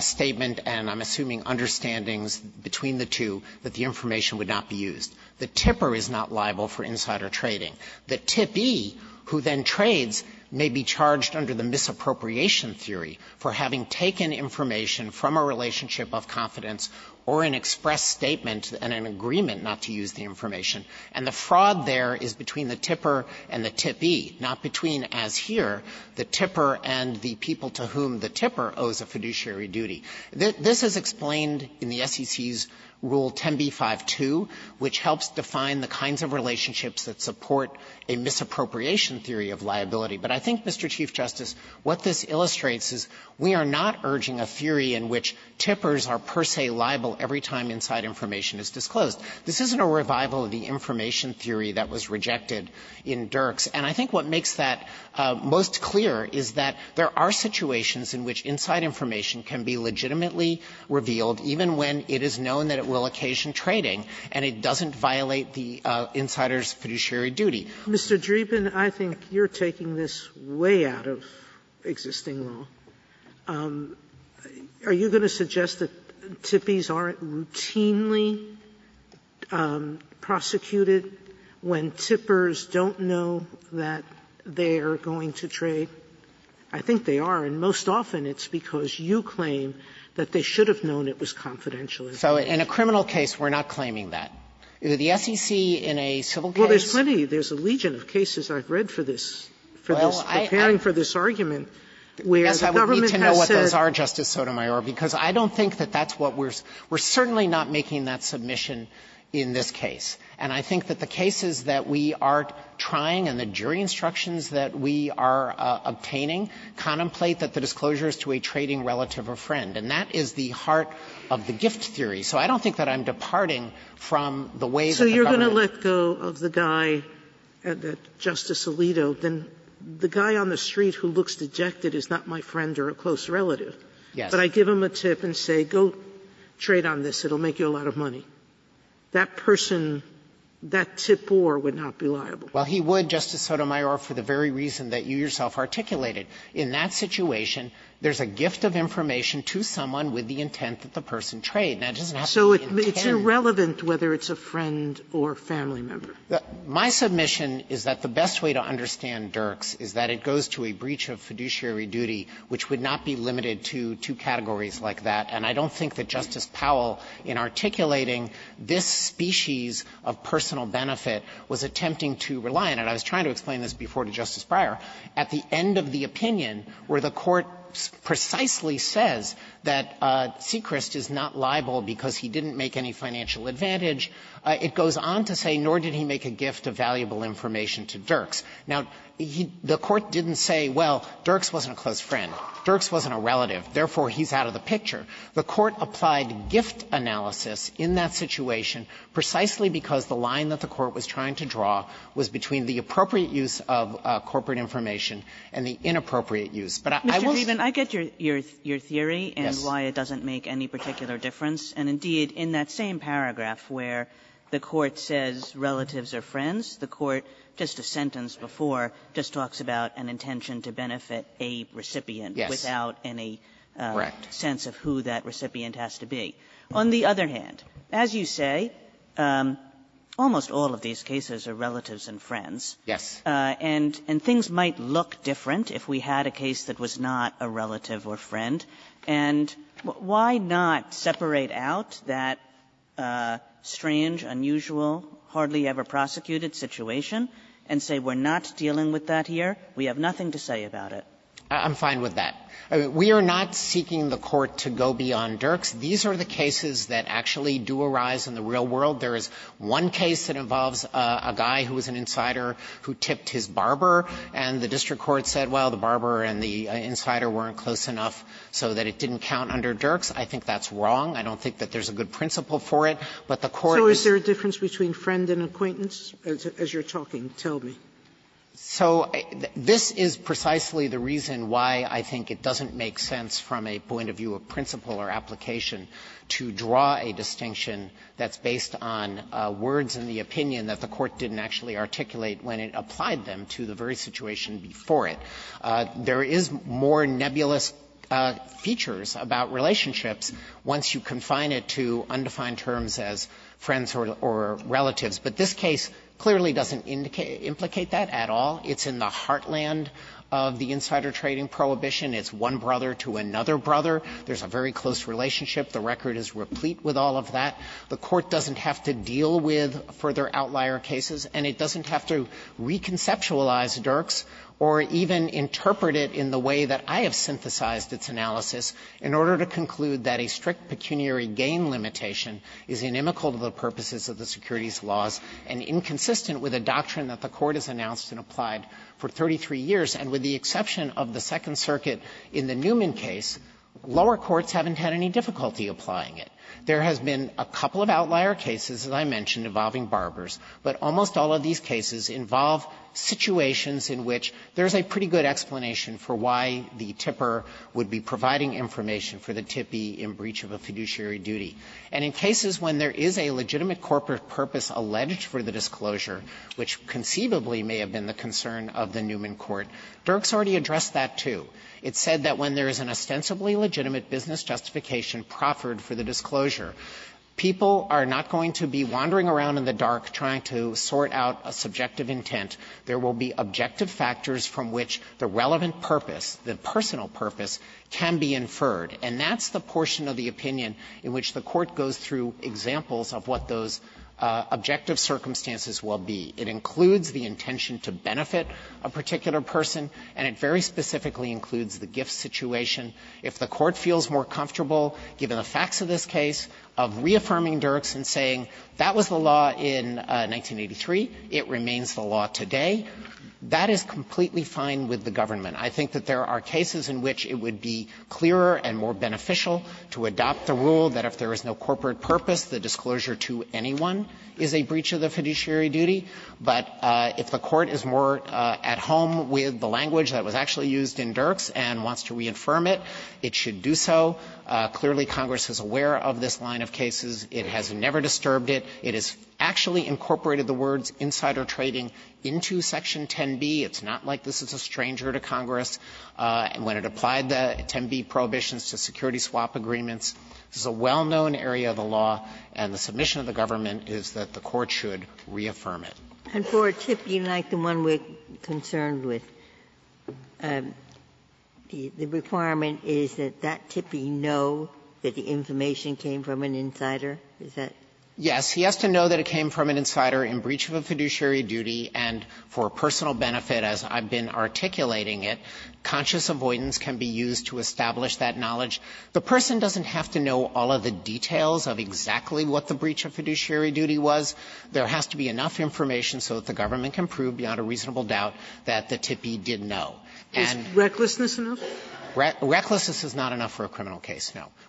statement, and I'm assuming understandings between the two, that the information would not be used. The tipper is not liable for insider trading. The tippee, who then trades, may be charged under the misappropriation theory for having taken information from a relationship of confidence or an express statement and an agreement not to use the information, and the fraud there is between the tipper and the tippee, not between, as here, the tipper and the people to whom the tipper owes a fiduciary duty. This is explained in the SEC's Rule 10b-5-2, which helps define the kinds of relationships that support a misappropriation theory of liability. But I think, Mr. Chief Justice, what this illustrates is we are not urging a theory in which tippers are per se liable every time inside information is disclosed. This isn't a revival of the information theory that was rejected in Dirks, and I think what makes that most clear is that there are situations in which inside information can be legitimately revealed, even when it is known that it will occasion trading, and it doesn't violate the insider's fiduciary duty. Sotomayor, Mr. Dreeben, I think you're taking this way out of existing law. Are you going to suggest that tippees aren't routinely prosecuted when tippers don't know that they are going to trade? I think they are, and most often it's because you claim that they should have known it was confidential. Dreeben, So in a criminal case, we're not claiming that. Sotomayor, there's plenty, there's a legion of cases I've read for this, for this preparing for this argument, where the government has said. Dreeben, I guess I would need to know what those are, Justice Sotomayor, because I don't think that that's what we're we're certainly not making that submission in this case. And I think that the cases that we are trying and the jury instructions that we are obtaining contemplate that the disclosure is to a trading relative or friend, and that is the heart of the gift theory. So I don't think that I'm departing from the way that the government. Sotomayor, if I let go of the guy, Justice Alito, then the guy on the street who looks dejected is not my friend or a close relative. Dreeben, Yes. Sotomayor, but I give him a tip and say go trade on this, it will make you a lot of money. That person, that tip or would not be liable. Dreeben, Well, he would, Justice Sotomayor, for the very reason that you yourself articulated. In that situation, there's a gift of information to someone with the intent that the person traded. Now, it doesn't have to be intent. Sotomayor, is it relevant whether it's a friend or family member? Dreeben, My submission is that the best way to understand Dirks is that it goes to a breach of fiduciary duty, which would not be limited to two categories like that. And I don't think that Justice Powell, in articulating this species of personal benefit, was attempting to rely on it. I was trying to explain this before to Justice Breyer. At the end of the opinion where the Court precisely says that Sechrist is not liable because he didn't make any financial advantage, it goes on to say, nor did he make a gift of valuable information to Dirks. Now, the Court didn't say, well, Dirks wasn't a close friend, Dirks wasn't a relative, therefore, he's out of the picture. The Court applied gift analysis in that situation precisely because the line that the Court was trying to draw was between the appropriate use of corporate information and the inappropriate use. But I will say Mr. Dreeben, I get your theory and why it doesn't make any particular difference. And indeed, in that same paragraph where the Court says relatives are friends, the Court, just a sentence before, just talks about an intention to benefit a recipient without any sense of who that recipient has to be. On the other hand, as you say, almost all of these cases are relatives and friends. Dreeben, and things might look different if we had a case that was not a relative or friend. And why not separate out that strange, unusual, hardly ever prosecuted situation and say we're not dealing with that here, we have nothing to say about it? Dreeben, I'm fine with that. We are not seeking the Court to go beyond Dirks. These are the cases that actually do arise in the real world. There is one case that involves a guy who was an insider who tipped his barber, and the district court said, well, the barber and the insider weren't close enough so that it didn't count under Dirks. I think that's wrong. I don't think that there's a good principle for it. But the Court is going to have to go beyond Dirks. Sotomayor So is there a difference between friend and acquaintance as you're talking? Tell me. Dreeben, so this is precisely the reason why I think it doesn't make sense from a point of view of principle or application to draw a distinction that's based on words in the opinion that the Court didn't actually articulate when it applied them to the very situation before it. There is more nebulous features about relationships once you confine it to undefined terms as friends or relatives. But this case clearly doesn't indicate or implicate that at all. It's in the heartland of the insider trading prohibition. It's one brother to another brother. There's a very close relationship. The record is replete with all of that. The Court doesn't have to deal with further outlier cases, and it doesn't have to even interpret it in the way that I have synthesized its analysis in order to conclude that a strict pecuniary gain limitation is inimical to the purposes of the securities laws and inconsistent with a doctrine that the Court has announced and applied for 33 years, and with the exception of the Second Circuit in the Newman case, lower courts haven't had any difficulty applying it. There has been a couple of outlier cases, as I mentioned, involving barbers, but almost all of these cases involve situations in which there's a pretty good explanation for why the tipper would be providing information for the tippee in breach of a fiduciary duty. And in cases when there is a legitimate corporate purpose alleged for the disclosure, which conceivably may have been the concern of the Newman court, Dirk's already addressed that, too. It said that when there is an ostensibly legitimate business justification proffered for the disclosure, people are not going to be wandering around in the dark trying to sort out a subjective intent. There will be objective factors from which the relevant purpose, the personal purpose, can be inferred. And that's the portion of the opinion in which the Court goes through examples of what those objective circumstances will be. It includes the intention to benefit a particular person, and it very specifically includes the gift situation. If the Court feels more comfortable, given the facts of this case, of reaffirming Dirk's and saying, that was the law in 1983, it remains the law today, that is completely fine with the government. I think that there are cases in which it would be clearer and more beneficial to adopt the rule that if there is no corporate purpose, the disclosure to anyone is a breach of the fiduciary duty. But if the Court is more at home with the language that was actually used in Dirk's and wants to reaffirm it, it should do so. Clearly, Congress is aware of this line of cases. It has never disturbed it. It has actually incorporated the words insider trading into Section 10b. It's not like this is a stranger to Congress. When it applied the 10b prohibitions to security swap agreements, this is a well-known area of the law, and the submission of the government is that the Court should reaffirm it. Ginsburg. And for a TIPI like the one we're concerned with, the requirement is that that TIPI know that the information came from an insider? Dreeben. Yes. He has to know that it came from an insider in breach of a fiduciary duty, and for personal benefit, as I've been articulating it, conscious avoidance can be used to establish that knowledge. The person doesn't have to know all of the details of exactly what the breach of fiduciary duty was. There has to be enough information so that the government can prove beyond a reasonable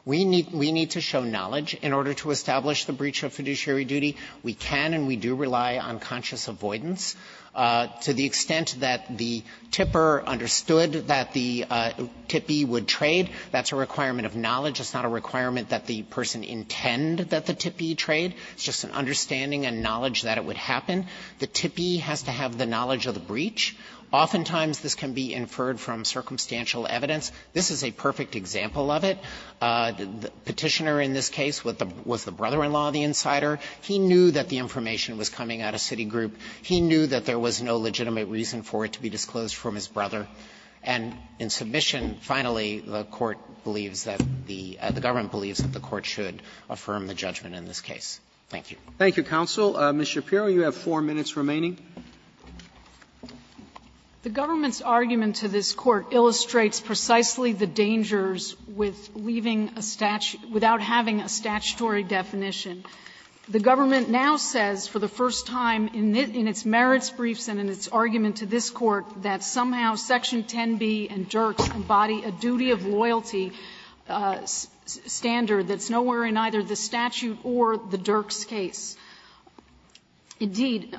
We need to show knowledge in order to establish the breach of fiduciary duty. We can and we do rely on conscious avoidance. To the extent that the TIPER understood that the TIPI would trade, that's a requirement of knowledge. It's not a requirement that the person intend that the TIPI trade. It's just an understanding and knowledge that it would happen. The TIPI has to have the knowledge of the breach. Oftentimes, this can be inferred from circumstantial evidence. This is a perfect example of it. The Petitioner in this case was the brother-in-law of the insider. He knew that the information was coming out of Citigroup. He knew that there was no legitimate reason for it to be disclosed from his brother. And in submission, finally, the Court believes that the Government believes that the Court should affirm the judgment in this case. Thank you. Roberts, Thank you, counsel. Ms. Shapiro, you have four minutes remaining. Shapiro, The government's argument to this Court illustrates precisely the dangers with leaving a statute without having a statutory definition. The government now says for the first time in its merits briefs and in its argument to this Court that somehow Section 10b and Dirks embody a duty of loyalty standard that's nowhere in either the statute or the Dirks case. Indeed,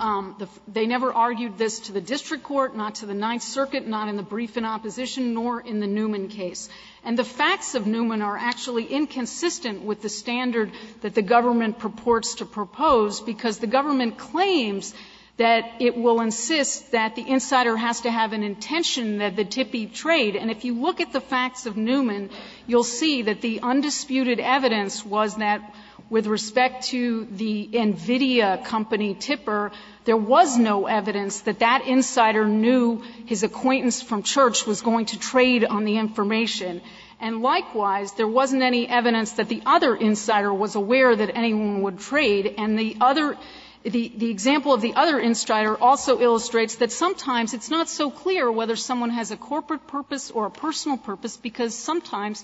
they never argued this to the district court, not to the Ninth Circuit, not in the brief in opposition, nor in the Newman case. And the facts of Newman are actually inconsistent with the standard that the government purports to propose, because the government claims that it will insist that the insider has to have an intention that the tippee trade. And if you look at the facts of Newman, you'll see that the undisputed evidence was that with respect to the NVIDIA company tipper, there was no evidence that that insider knew his acquaintance from church was going to trade on the information. And likewise, there wasn't any evidence that the other insider was aware that anyone would trade. And the other the example of the other insider also illustrates that sometimes it's not so clear whether someone has a corporate purpose or a personal purpose, because sometimes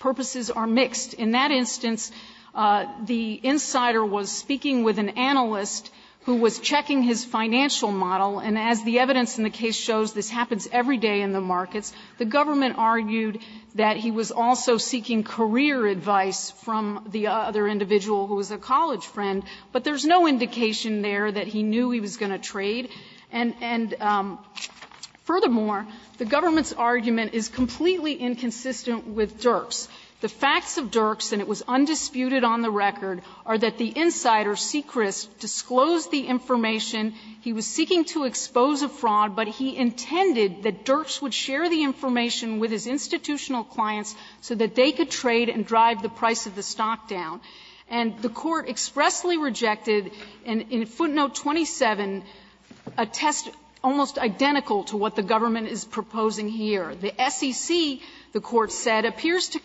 purposes are mixed. In that instance, the insider was speaking with an analyst who was checking his financial model, and as the evidence in the case shows, this happens every day in the markets. The government argued that he was also seeking career advice from the other individual who was a college friend, but there's no indication there that he knew he was going to trade. And furthermore, the government's argument is completely inconsistent with Dirks. The facts of Dirks, and it was undisputed on the record, are that the insider, Sechrist, disclosed the information. He was seeking to expose a fraud, but he intended that Dirks would share the information with his institutional clients so that they could trade and drive the price of the stock down. And the Court expressly rejected, in footnote 27, a test almost identical to what the government is proposing here. The SEC, the Court said, appears to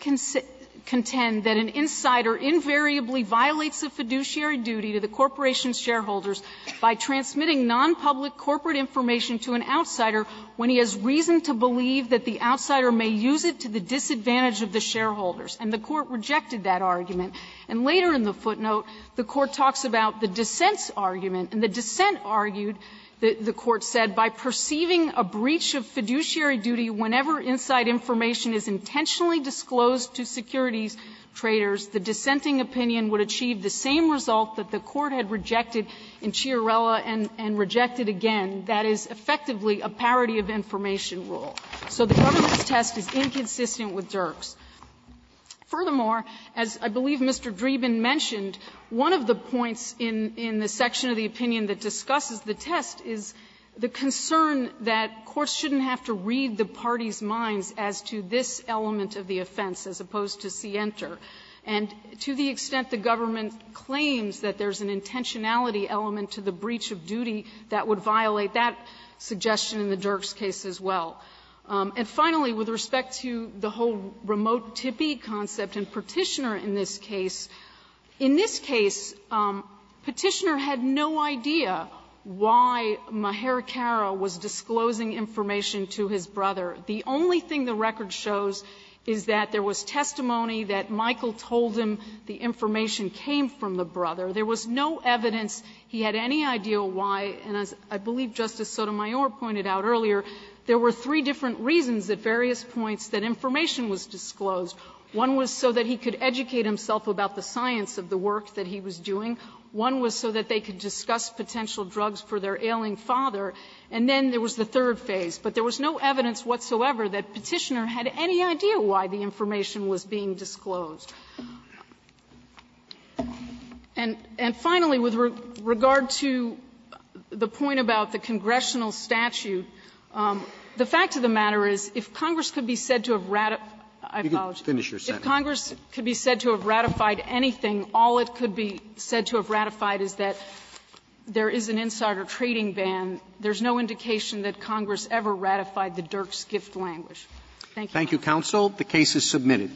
contend that an insider invariably violates a fiduciary duty to the corporation's shareholders by transmitting nonpublic corporate information to an outsider when he has reason to believe that the outsider may use it to the disadvantage of the shareholders, and the Court rejected that argument. And later in the footnote, the Court talks about the dissent's argument, and the dissent argued, the Court said, by perceiving a breach of fiduciary duty whenever inside information is intentionally disclosed to securities traders, the dissenting opinion would achieve the same result that the Court had rejected in Chiarella and rejected again. That is effectively a parity of information rule. So the government's test is inconsistent with Dirks. Furthermore, as I believe Mr. Dreeben mentioned, one of the points in the section of the opinion that discusses the test is the concern that courts shouldn't have to read the party's minds as to this element of the offense as opposed to C. Enter. And to the extent the government claims that there's an intentionality element to the breach of duty, that would violate that suggestion in the Dirks case as well. And finally, with respect to the whole remote tippy concept in Petitioner in this case, in this case, Petitioner had no idea why Mehar Carra was disclosing information to his brother. The only thing the record shows is that there was testimony that Michael told him the information came from the brother. There was no evidence he had any idea why, and as I believe Justice Sotomayor pointed out earlier, there were three different reasons at various points that information was disclosed. One was so that he could educate himself about the science of the work that he was doing. One was so that they could discuss potential drugs for their ailing father. And then there was the third phase. But there was no evidence whatsoever that Petitioner had any idea why the information was being disclosed. And finally, with regard to the point about the congressional statute, the fact of the matter is if Congress could be said to have ratified anything, all it could be said to have ratified is that there is an insider trading ban. There is no indication that Congress ever ratified the Dirk's gift language. Thank you, Your Honor. Roberts. Thank you, counsel. The case is submitted.